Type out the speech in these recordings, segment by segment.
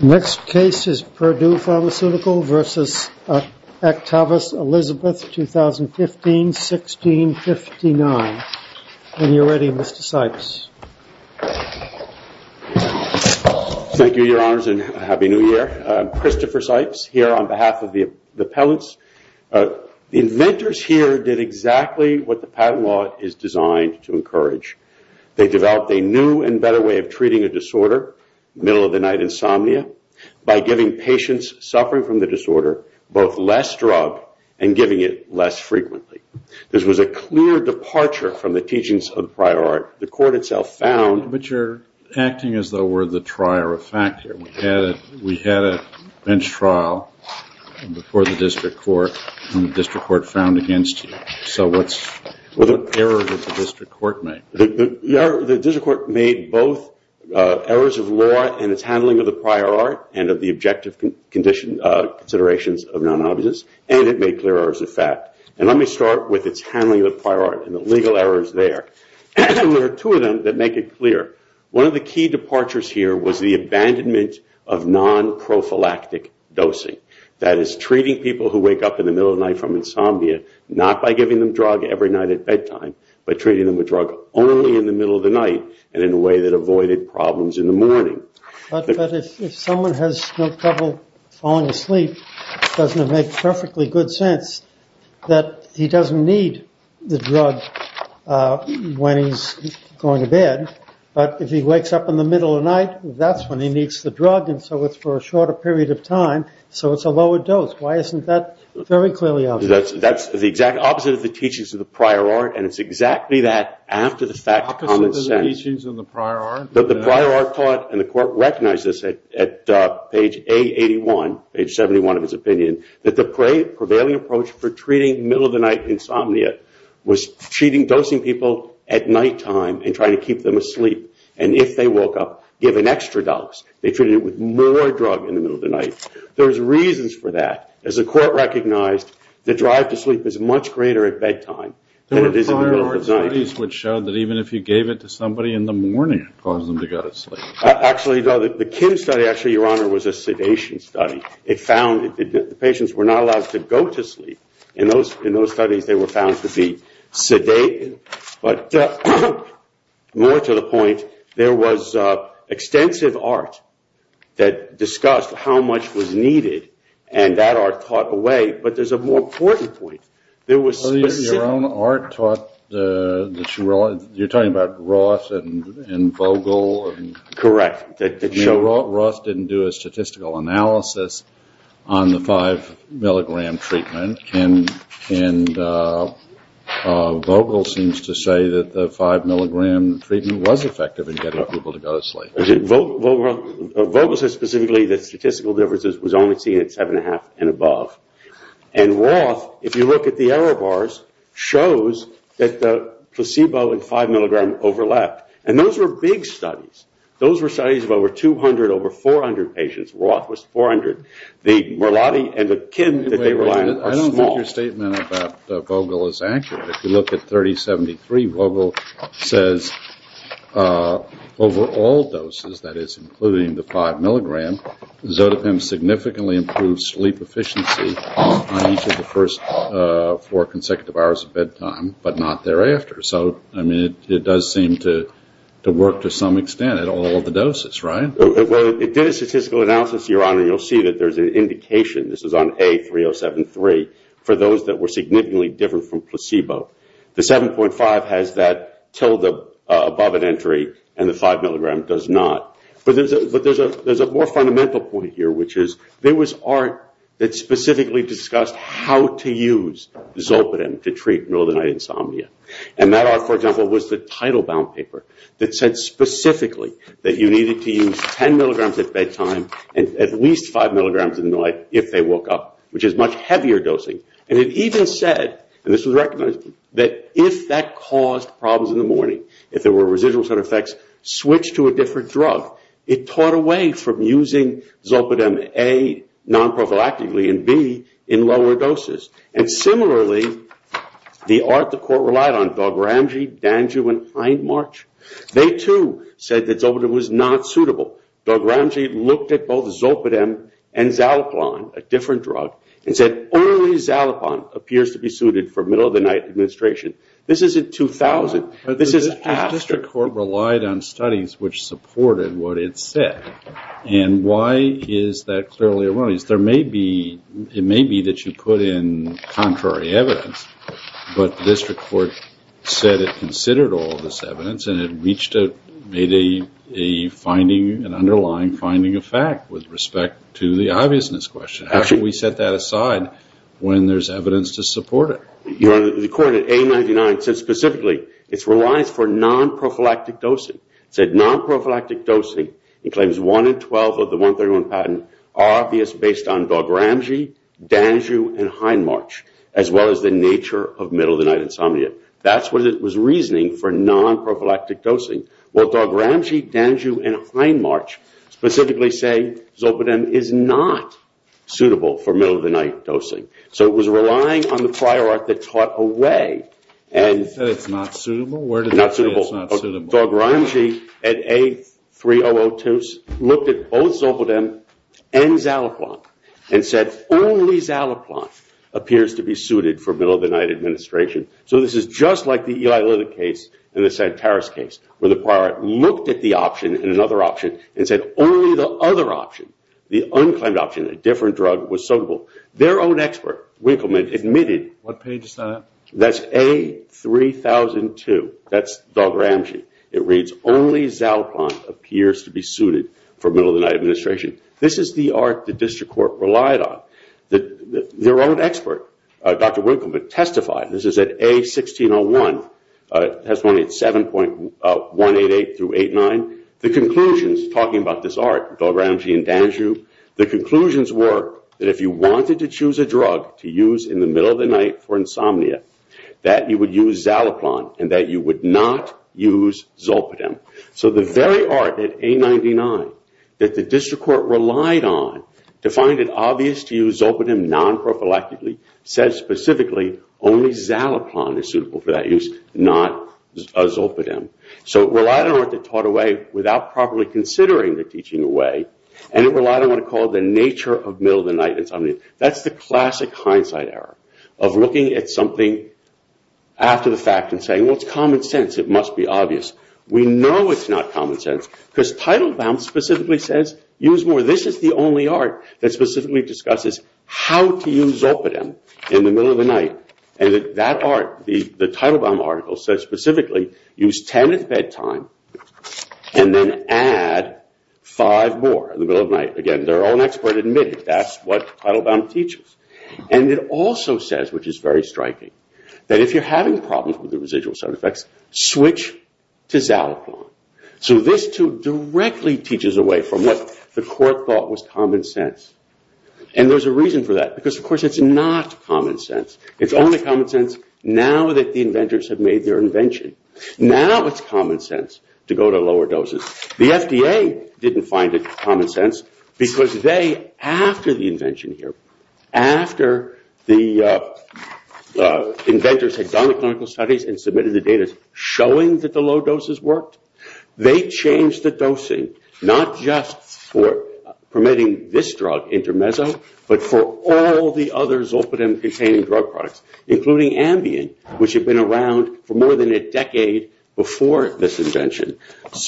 2015-16-59 Christopher Sipes Here on behalf of the appellants, the inventors here did exactly what the patent law is designed to encourage. They developed a new and better way of treating a disorder, middle of the night insomnia, by giving patients suffering from the disorder both less drug and giving it less frequently. This was a clear departure from the teachings of the prior art. The court itself found... But you're acting as though we're the trier of fact here. We had a bench trial before the district court and the district court found against you. So what's the error that the district court made? The district court made both errors of law and its handling of the prior art and of the objective considerations of non-obviousness, and it made clear errors of fact. And let me start with its handling of the prior art and the legal errors there. There are two of them that make it clear. One of the key departures here was the abandonment of non-prophylactic dosing. That is, treating people who wake up in the middle of the night from insomnia not by giving them drug every night at bedtime, but treating them with drug only in the middle of the night and in a way that avoided problems in the morning. But if someone has no trouble falling asleep, doesn't it make perfectly good sense that he doesn't need the drug when he's going to bed, but if he wakes up in the middle of the night and he doesn't need the drug and so it's for a shorter period of time, so it's a lower dose. Why isn't that very clearly obvious? That's the exact opposite of the teachings of the prior art, and it's exactly that after the fact common sense. Opposite of the teachings of the prior art? The prior art taught, and the court recognized this at page A81, page 71 of his opinion, that the prevailing approach for treating middle of the night insomnia was treating dosing people at nighttime and trying to keep them asleep. And if they woke up given extra dose, they treated it with more drug in the middle of the night. There's reasons for that. As the court recognized, the drive to sleep is much greater at bedtime than it is in the middle of the night. There were prior art studies which showed that even if you gave it to somebody in the morning, it caused them to go to sleep. Actually no, the Kim study actually, Your Honor, was a sedation study. It found that the patients were not allowed to go to sleep. In those studies, they were found to be sedated. But more to the point, there was extensive art that discussed how much was needed, and that art taught away, but there's a more important point. There was specific... So your own art taught that you were... You're talking about Roth and Vogel and... Correct. Roth didn't do a statistical analysis on the 5 milligram treatment, and Vogel seems to say that the 5 milligram treatment was effective in getting people to go to sleep. Vogel says specifically that statistical differences was only seen at 7.5 and above. And Roth, if you look at the error bars, shows that the placebo and 5 milligram overlapped. And those were big studies. Those were studies of over 200, over 400 patients. Roth was 400. The Merlotti and the Kim that they relied on are small. I don't think your statement about Vogel is accurate. If you look at 3073, Vogel says over all doses, that is including the 5 milligram, Zotapim significantly improves sleep efficiency on each of the first four consecutive hours of bedtime, but not thereafter. So, I mean, it does seem to work to some extent at all the doses, right? Well, it did a statistical analysis, Your Honor, and you'll see that there's an indication, this is on A3073, for those that were significantly different from placebo. The 7.5 has that tilde above an entry, and the 5 milligram does not. But there's a more fundamental point here, which is there was art that specifically discussed how to use Zotapim to treat middle of the night insomnia. And that art, for example, was the title bound paper that said specifically that you needed to use 10 milligrams at bedtime and at least 5 milligrams in the night if they woke up, which is much heavier dosing. And it even said, and this was recognized, that if that caused problems in the morning, if there were residual side effects, switch to a different drug. It taught a way from using Zotapim, A, non-prophylactically, and B, in lower doses. And similarly, the art the court relied on, Dalgramji, Danju, and Hindmarch, they too said that Zotapim was not suitable. Dalgramji looked at both Zotapim and Xalapon, a different drug, and said, only Xalapon appears to be suited for middle of the night administration. This isn't 2000. This is after. The district court relied on studies which supported what it said. And why is that clearly wrong? There may be, it may be that you put in contrary evidence, but the district court said it considered all this evidence and it reached a, made a finding, an underlying finding of fact with respect to the obviousness question. How should we set that aside when there's evidence to support it? The court at A99 said specifically it relies for non-prophylactic dosing. It said non-prophylactic dosing, it claims 1 in 12 of the 131 patent, obvious based on Dalgramji, Danju, and Hindmarch, as well as the nature of middle of the night insomnia. That's what it was reasoning for non-prophylactic dosing. Well, Dalgramji, Danju, and Hindmarch specifically say Zotapim is not suitable for middle of the night dosing. So it was relying on the prior art that taught away. And you said it's not suitable? Not suitable. Dalgramji at A3002 looked at both Zolpidem and Zalaplon and said only Zalaplon appears to be suited for middle of the night administration. So this is just like the Eli Liddick case and the Santaris case, where the prior art looked at the option and another option and said only the other option, the unclaimed option, a different drug was suitable. Their own expert, Winkleman, admitted. What page is that? That's A3002. That's Dalgramji. It reads only Zalaplon appears to be suited for middle of the night administration. This is the art the district court relied on. Their own expert, Dr. Winkleman, testified. This is at A1601, testimony at 7.188 through 8.9. The conclusions, talking about this art, Dalgramji and Danju, the conclusions were that if you wanted to choose a drug to use in the middle of the night for insomnia, that you would use Zalaplon and that you would not use Zolpidem. So the very art at A99 that the district court relied on to find it obvious to use Zolpidem non-prophylactically said specifically only Zalaplon is suitable for that use, not Zolpidem. So it relied on art that taught away without properly considering the teaching away and it relied on what it called the nature of middle of the night insomnia. That's the classic hindsight error of looking at something after the fact and saying well it's common sense, it must be obvious. We know it's not common sense because Teitelbaum specifically says use more. This is the only art that specifically discusses how to use Zolpidem in the middle of the night and that art, the Teitelbaum article, says specifically use 10 at bedtime and then add 5 more in the middle of the night. Again, they're all expert in mid, that's what Teitelbaum teaches. And it also says, which is very striking, that if you're having problems with the residual side effects, switch to Zalaplon. So this too directly teaches away from what the court thought was common sense and there's a reason for that because of course it's not common sense. It's only common sense now that the inventors have made their invention. Now it's common sense to go to lower doses. The FDA didn't find it common sense because they, after the invention here, after the inventors had done the clinical studies and submitted the data showing that the low doses worked, they changed the dosing, not just for permitting this drug, Intermezzo, but for all the other Zolpidem containing drug products, including Ambien, which had been around for more than a decade before this invention.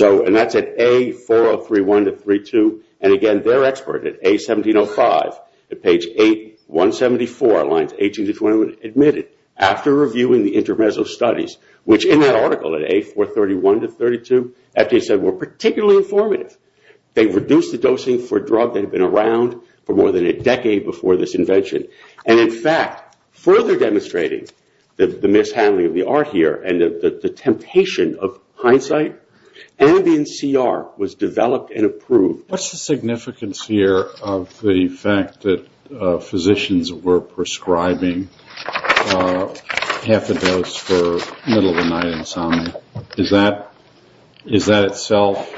And that's at A4031 to A4032. And again, they're expert at A1705, at page 874, lines 18 to 21, admitted after reviewing the Intermezzo studies, which in that article at A431 to A432, FDA said were particularly informative. They reduced the dosing for a drug that had been around for more than a decade before this invention. And, in fact, further demonstrating the mishandling of the art here and the temptation of hindsight, Ambien CR was developed and approved. What's the significance here of the fact that physicians were prescribing half a dose for middle of the night insomnia? Is that itself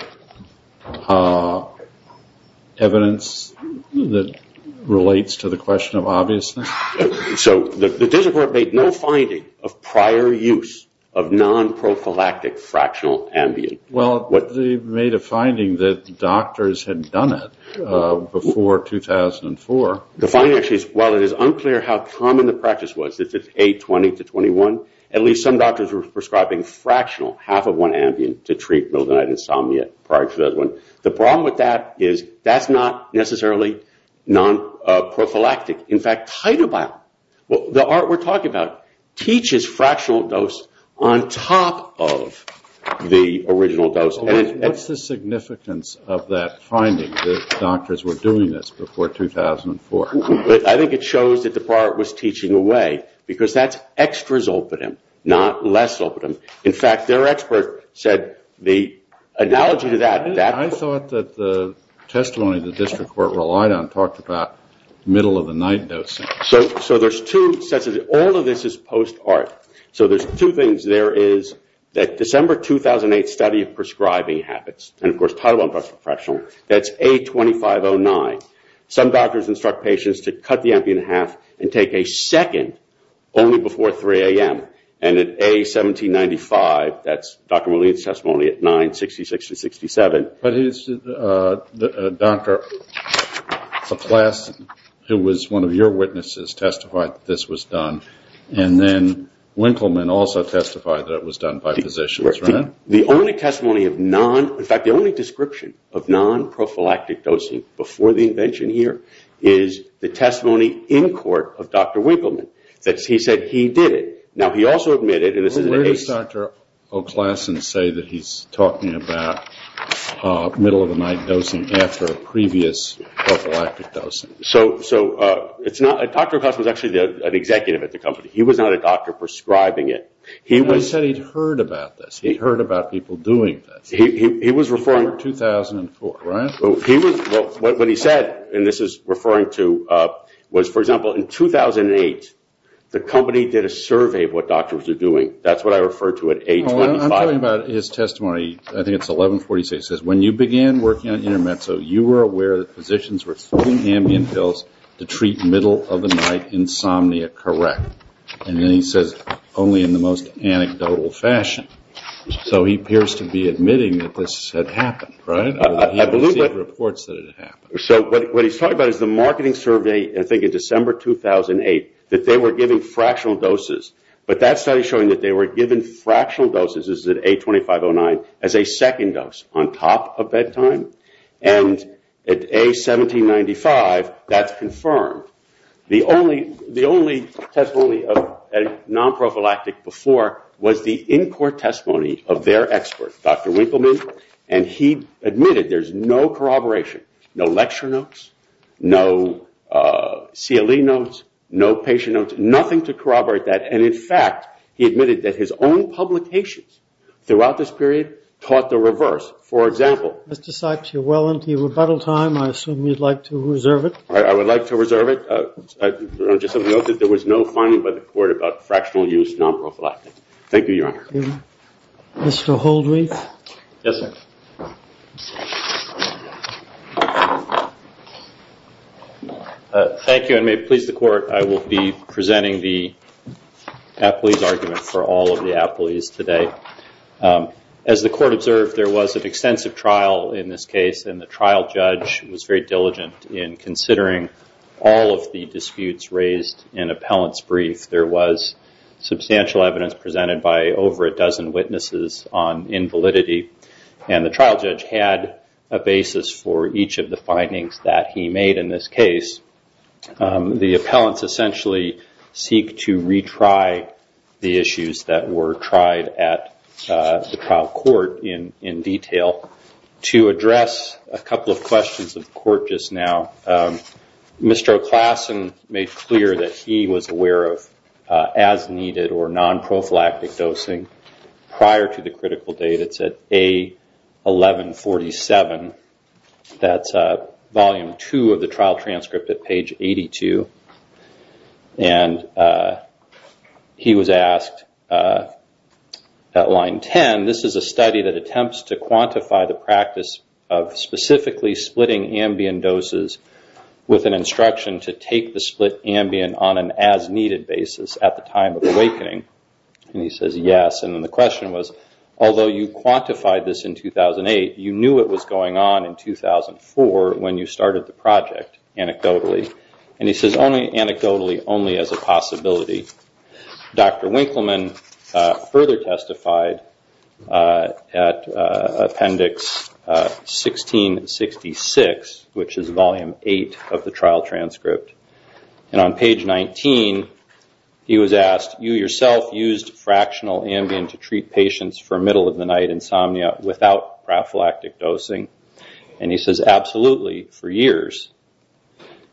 evidence that relates to the question of obviousness? So the discipline made no finding of prior use of non-prophylactic fractional Ambien. Well, they made a finding that doctors had done it before 2004. The finding actually is, while it is unclear how common the practice was, since it's A20 to A21, at least some doctors were prescribing fractional, half of one Ambien to treat middle of the night insomnia prior to 2001. The problem with that is that's not necessarily non-prophylactic. In fact, Titobiol, the art we're talking about, teaches fractional dose on top of the original dose. What's the significance of that finding that doctors were doing this before 2004? I think it shows that the part was teaching away, because that's extra zolpidem, not less zolpidem. In fact, their expert said the analogy to that... I thought that the testimony the district court relied on talked about middle of the night dosing. So there's two sets of... All of this is post art. So there's two things. There is that December 2008 study of prescribing habits, and of course Titobiol plus fractional, that's A2509. Some doctors instruct patients to cut the Ambien in half and take a second only before 3 a.m., and at A1795, that's Dr. Moline's testimony, at 966 to 67. But is Dr. Laplace, who was one of your witnesses, testified that this was done? And then Winkleman also testified that it was done by physicians, right? The only testimony of non... In fact, the only description of non-prophylactic dosing before the invention here is the testimony in court of Dr. Winkleman, that he said he did it. Now, he also admitted... Where does Dr. O'Klassen say that he's talking about middle of the night dosing after a previous prophylactic dosing? So Dr. O'Klassen was actually an executive at the company. He was not a doctor prescribing it. He said he'd heard about this. He'd heard about people doing this. He was referring to 2004, right? What he said, and this is referring to, was, for example, in 2008, the company did a survey of what doctors were doing. That's what I referred to at A25. I'm talking about his testimony. I think it's 1146. It says, when you began working on Intermezzo, you were aware that physicians were filling Ambien pills to treat middle of the night insomnia correct. And then he says, only in the most anecdotal fashion. So he appears to be admitting that this had happened, right? He received reports that it had happened. So what he's talking about is the marketing survey, I think in December 2008, that they were giving fractional doses. But that study is showing that they were giving fractional doses, this is at A2509, as a second dose on top of bedtime. And at A1795, that's confirmed. The only testimony of a non-prophylactic before was the in-court testimony of their expert, Dr. Winkleman. And he admitted there's no corroboration, no lecture notes, no CLE notes, no patient notes, nothing to corroborate that. And, in fact, he admitted that his own publications throughout this period taught the reverse. For example. Mr. Sykes, you're well into your rebuttal time. I assume you'd like to reserve it. I would like to reserve it. I just have to note that there was no finding by the court about fractional use non-prophylactic. Thank you, Your Honor. Mr. Holdreth? Yes, sir. Thank you, and may it please the Court, I will be presenting the appellee's argument for all of the appellees today. As the Court observed, there was an extensive trial in this case, and the trial judge was very diligent in considering all of the disputes raised in appellant's brief. There was substantial evidence presented by over a dozen witnesses on invalidity, and the trial judge had a basis for each of the findings that he made in this case. The appellants essentially seek to retry the issues that were tried at the trial court in detail to address a couple of questions of the Court just now. Mr. O'Klassen made clear that he was aware of as-needed or non-prophylactic dosing prior to the critical date. It's at A1147. That's volume two of the trial transcript at page 82. He was asked at line 10, this is a study that attempts to quantify the practice of specifically splitting ambient doses with an instruction to take the split ambient on an as-needed basis at the time of awakening. He says yes, and the question was, although you quantified this in 2008, you knew it was going on in 2004 when you started the project, anecdotally. He says anecdotally, only as a possibility. Dr. Winkleman further testified at appendix 1666, which is volume eight of the trial transcript. On page 19, he was asked, you yourself used fractional ambient to treat patients for middle-of-the-night insomnia without prophylactic dosing. He says, absolutely, for years.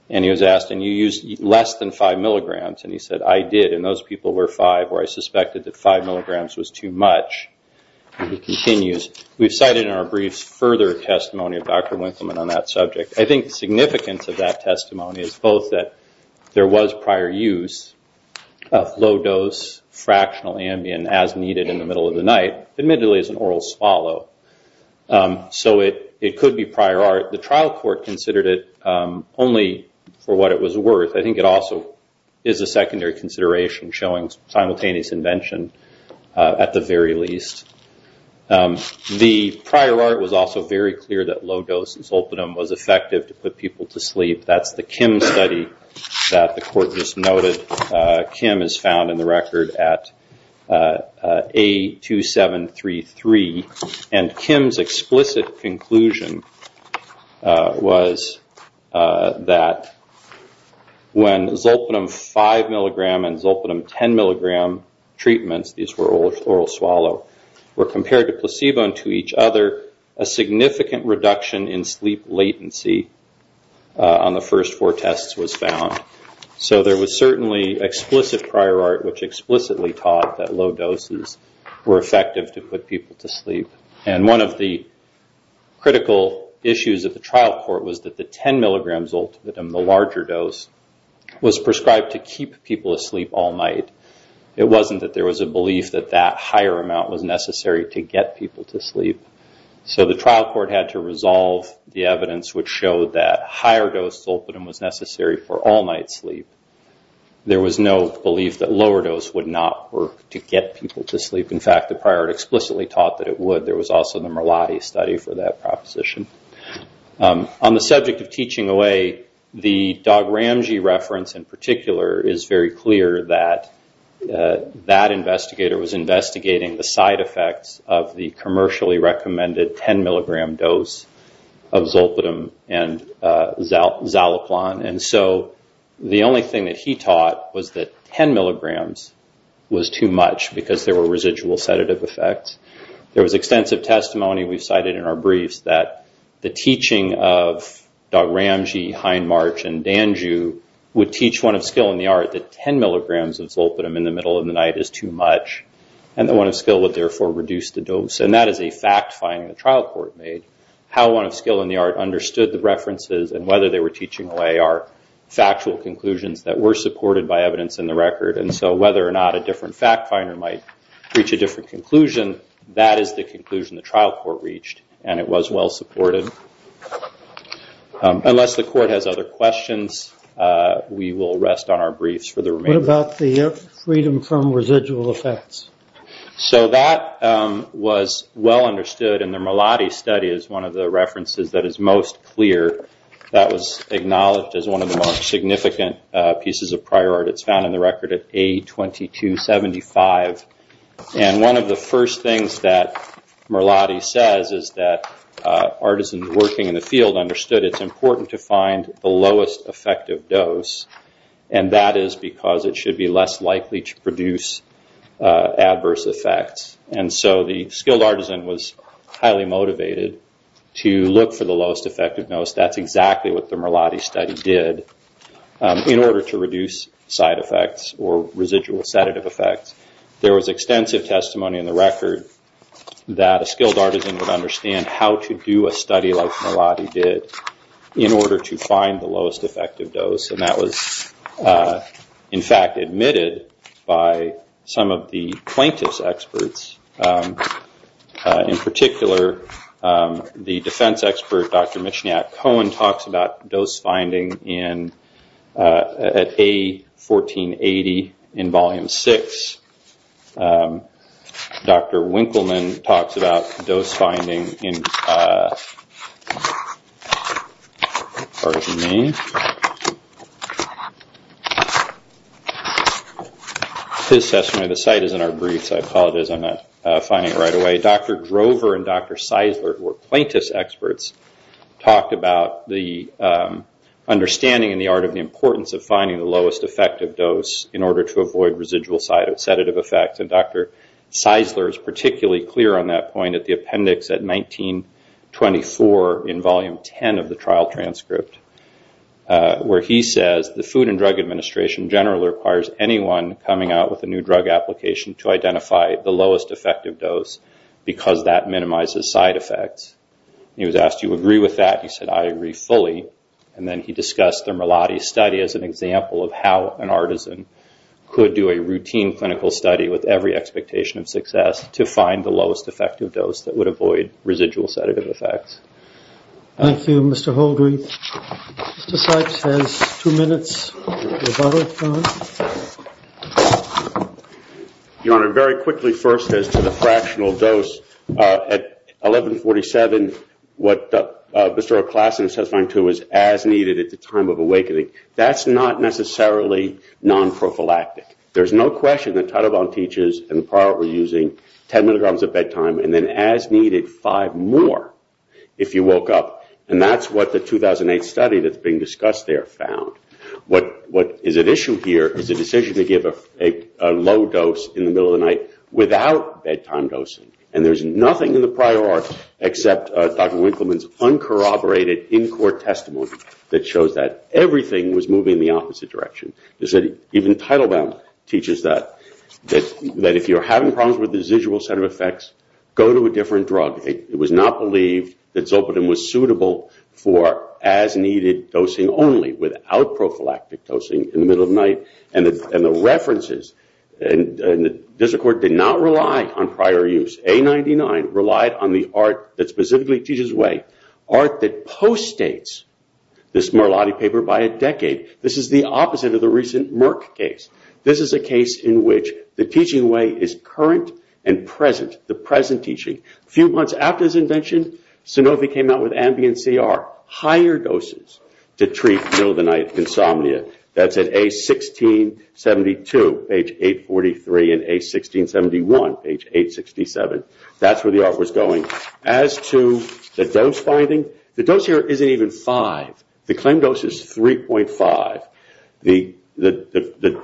He was asked, and you used less than five milligrams. He said, I did, and those people were five where I suspected that five milligrams was too much. He continues, we've cited in our briefs further testimony of Dr. Winkleman on that subject. I think the significance of that testimony is both that there was prior use of low-dose fractional ambient as-needed in the middle of the night, admittedly as an oral swallow. So it could be prior art. The trial court considered it only for what it was worth. I think it also is a secondary consideration, showing simultaneous invention at the very least. The prior art was also very clear that low-dose insulpinum was effective to put people to sleep. That's the Kim study that the court just noted. Kim is found in the record at A2733. Kim's explicit conclusion was that when zolpidem 5 milligram and zolpidem 10 milligram treatments, these were oral swallow, were compared to placebo and to each other, a significant reduction in sleep latency on the first four tests was found. There was certainly explicit prior art which explicitly taught that low doses were effective to put people to sleep. One of the critical issues of the trial court was that the 10 milligram zolpidem, the larger dose, was prescribed to keep people asleep all night. It wasn't that there was a belief that that higher amount was necessary to get people to sleep. The trial court had to resolve the evidence which showed that higher dose zolpidem was necessary for all-night sleep. There was no belief that lower dose would not work to get people to sleep. In fact, the prior art explicitly taught that it would. There was also the Merlotti study for that proposition. On the subject of teaching away, the Doug Ramsey reference in particular is very clear that that investigator was investigating the side effects of the commercially recommended 10 milligram dose of zolpidem and zaloplan. And so the only thing that he taught was that 10 milligrams was too much because there were residual sedative effects. There was extensive testimony we cited in our briefs that the teaching of Doug Ramsey, Hindmarch, and Danjue would teach one of skill in the art that 10 milligrams of zolpidem in the middle of the night is too much. And the one of skill would therefore reduce the dose. And that is a fact finding the trial court made. How one of skill in the art understood the references and whether they were teaching away are factual conclusions that were supported by evidence in the record. And so whether or not a different fact finder might reach a different conclusion, that is the conclusion the trial court reached. And it was well supported. Unless the court has other questions, we will rest on our briefs for the remainder. What about the freedom from residual effects? So that was well understood. And the Merlotti study is one of the references that is most clear. That was acknowledged as one of the most significant pieces of prior art. It's found in the record at A2275. And one of the first things that Merlotti says is that artisans working in the field understood it's important to find the lowest effective dose. And that is because it should be less likely to produce adverse effects. And so the skilled artisan was highly motivated to look for the lowest effective dose. That's exactly what the Merlotti study did in order to reduce side effects or residual sedative effects. There was extensive testimony in the record that a skilled artisan would understand how to do a study like Merlotti did in order to find the lowest effective dose. And that was, in fact, admitted by some of the plaintiff's experts. In particular, the defense expert, Dr. Michniak-Cohen, talks about dose finding at A1480 in Volume 6. Dr. Winkleman talks about dose finding in, as far as you may know. His testimony of the site is in our briefs. I apologize, I'm not finding it right away. Dr. Drover and Dr. Seisler, who were plaintiff's experts, talked about the understanding and the art of the importance of finding the lowest effective dose in order to avoid residual sedative effects. And Dr. Seisler is particularly clear on that point at the appendix at 1924 in Volume 10 of the trial transcript. Where he says, the Food and Drug Administration generally requires anyone coming out with a new drug application to identify the lowest effective dose because that minimizes side effects. He was asked, do you agree with that? He said, I agree fully. And then he discussed the Merlotti study as an example of how an artisan could do a routine clinical study with every expectation of success to find the lowest effective dose that would avoid residual sedative effects. Thank you, Mr. Holdry. Mr. Sipes has two minutes. Your Honor, very quickly first as to the fractional dose. At 1147, what Mr. O'Classon is testifying to is as needed at the time of awakening. That's not necessarily non-prophylactic. There's no question that Tidal Bound teaches and the prior art were using 10 milligrams of bedtime and then as needed five more if you woke up. And that's what the 2008 study that's being discussed there found. What is at issue here is the decision to give a low dose in the middle of the night without bedtime dosing. And there's nothing in the prior art except Dr. Winkleman's uncorroborated in-court testimony that shows that everything was moving in the opposite direction. Even Tidal Bound teaches that. That if you're having problems with residual sedative effects, go to a different drug. It was not believed that Zolpidem was suitable for as needed dosing only without prophylactic dosing in the middle of the night. And the references in the district court did not rely on prior use. A99 relied on the art that specifically teaches way. Art that post-states this Merlotti paper by a decade. This is the opposite of the recent Merck case. This is a case in which the teaching way is current and present, the present teaching. A few months after his invention, Sanofi came out with Ambien CR, higher doses to treat middle of the night insomnia. That's at A1672, page 843 and A1671, page 867. That's where the art was going. As to the dose finding, the dose here isn't even five. The claim dose is 3.5. The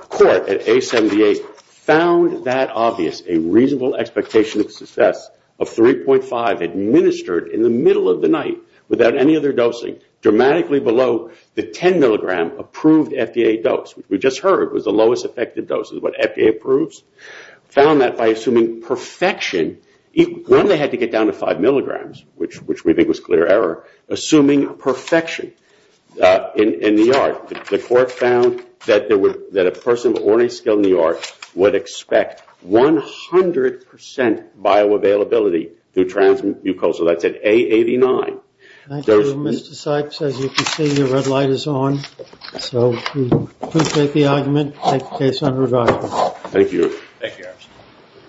court at A78 found that obvious. A reasonable expectation of success of 3.5 administered in the middle of the night without any other dosing. Dramatically below the 10 milligram approved FDA dose. We just heard it was the lowest effective dose of what FDA approves. Found that by assuming perfection. One they had to get down to five milligrams, which we think was clear error. Assuming perfection in the art. The court found that a person of ornate skill in the art would expect 100% bioavailability through transmucosal. That's at A89. Thank you, Mr. Sykes. As you can see, the red light is on. So we take the argument and take the case under review. Thank you. Thank you.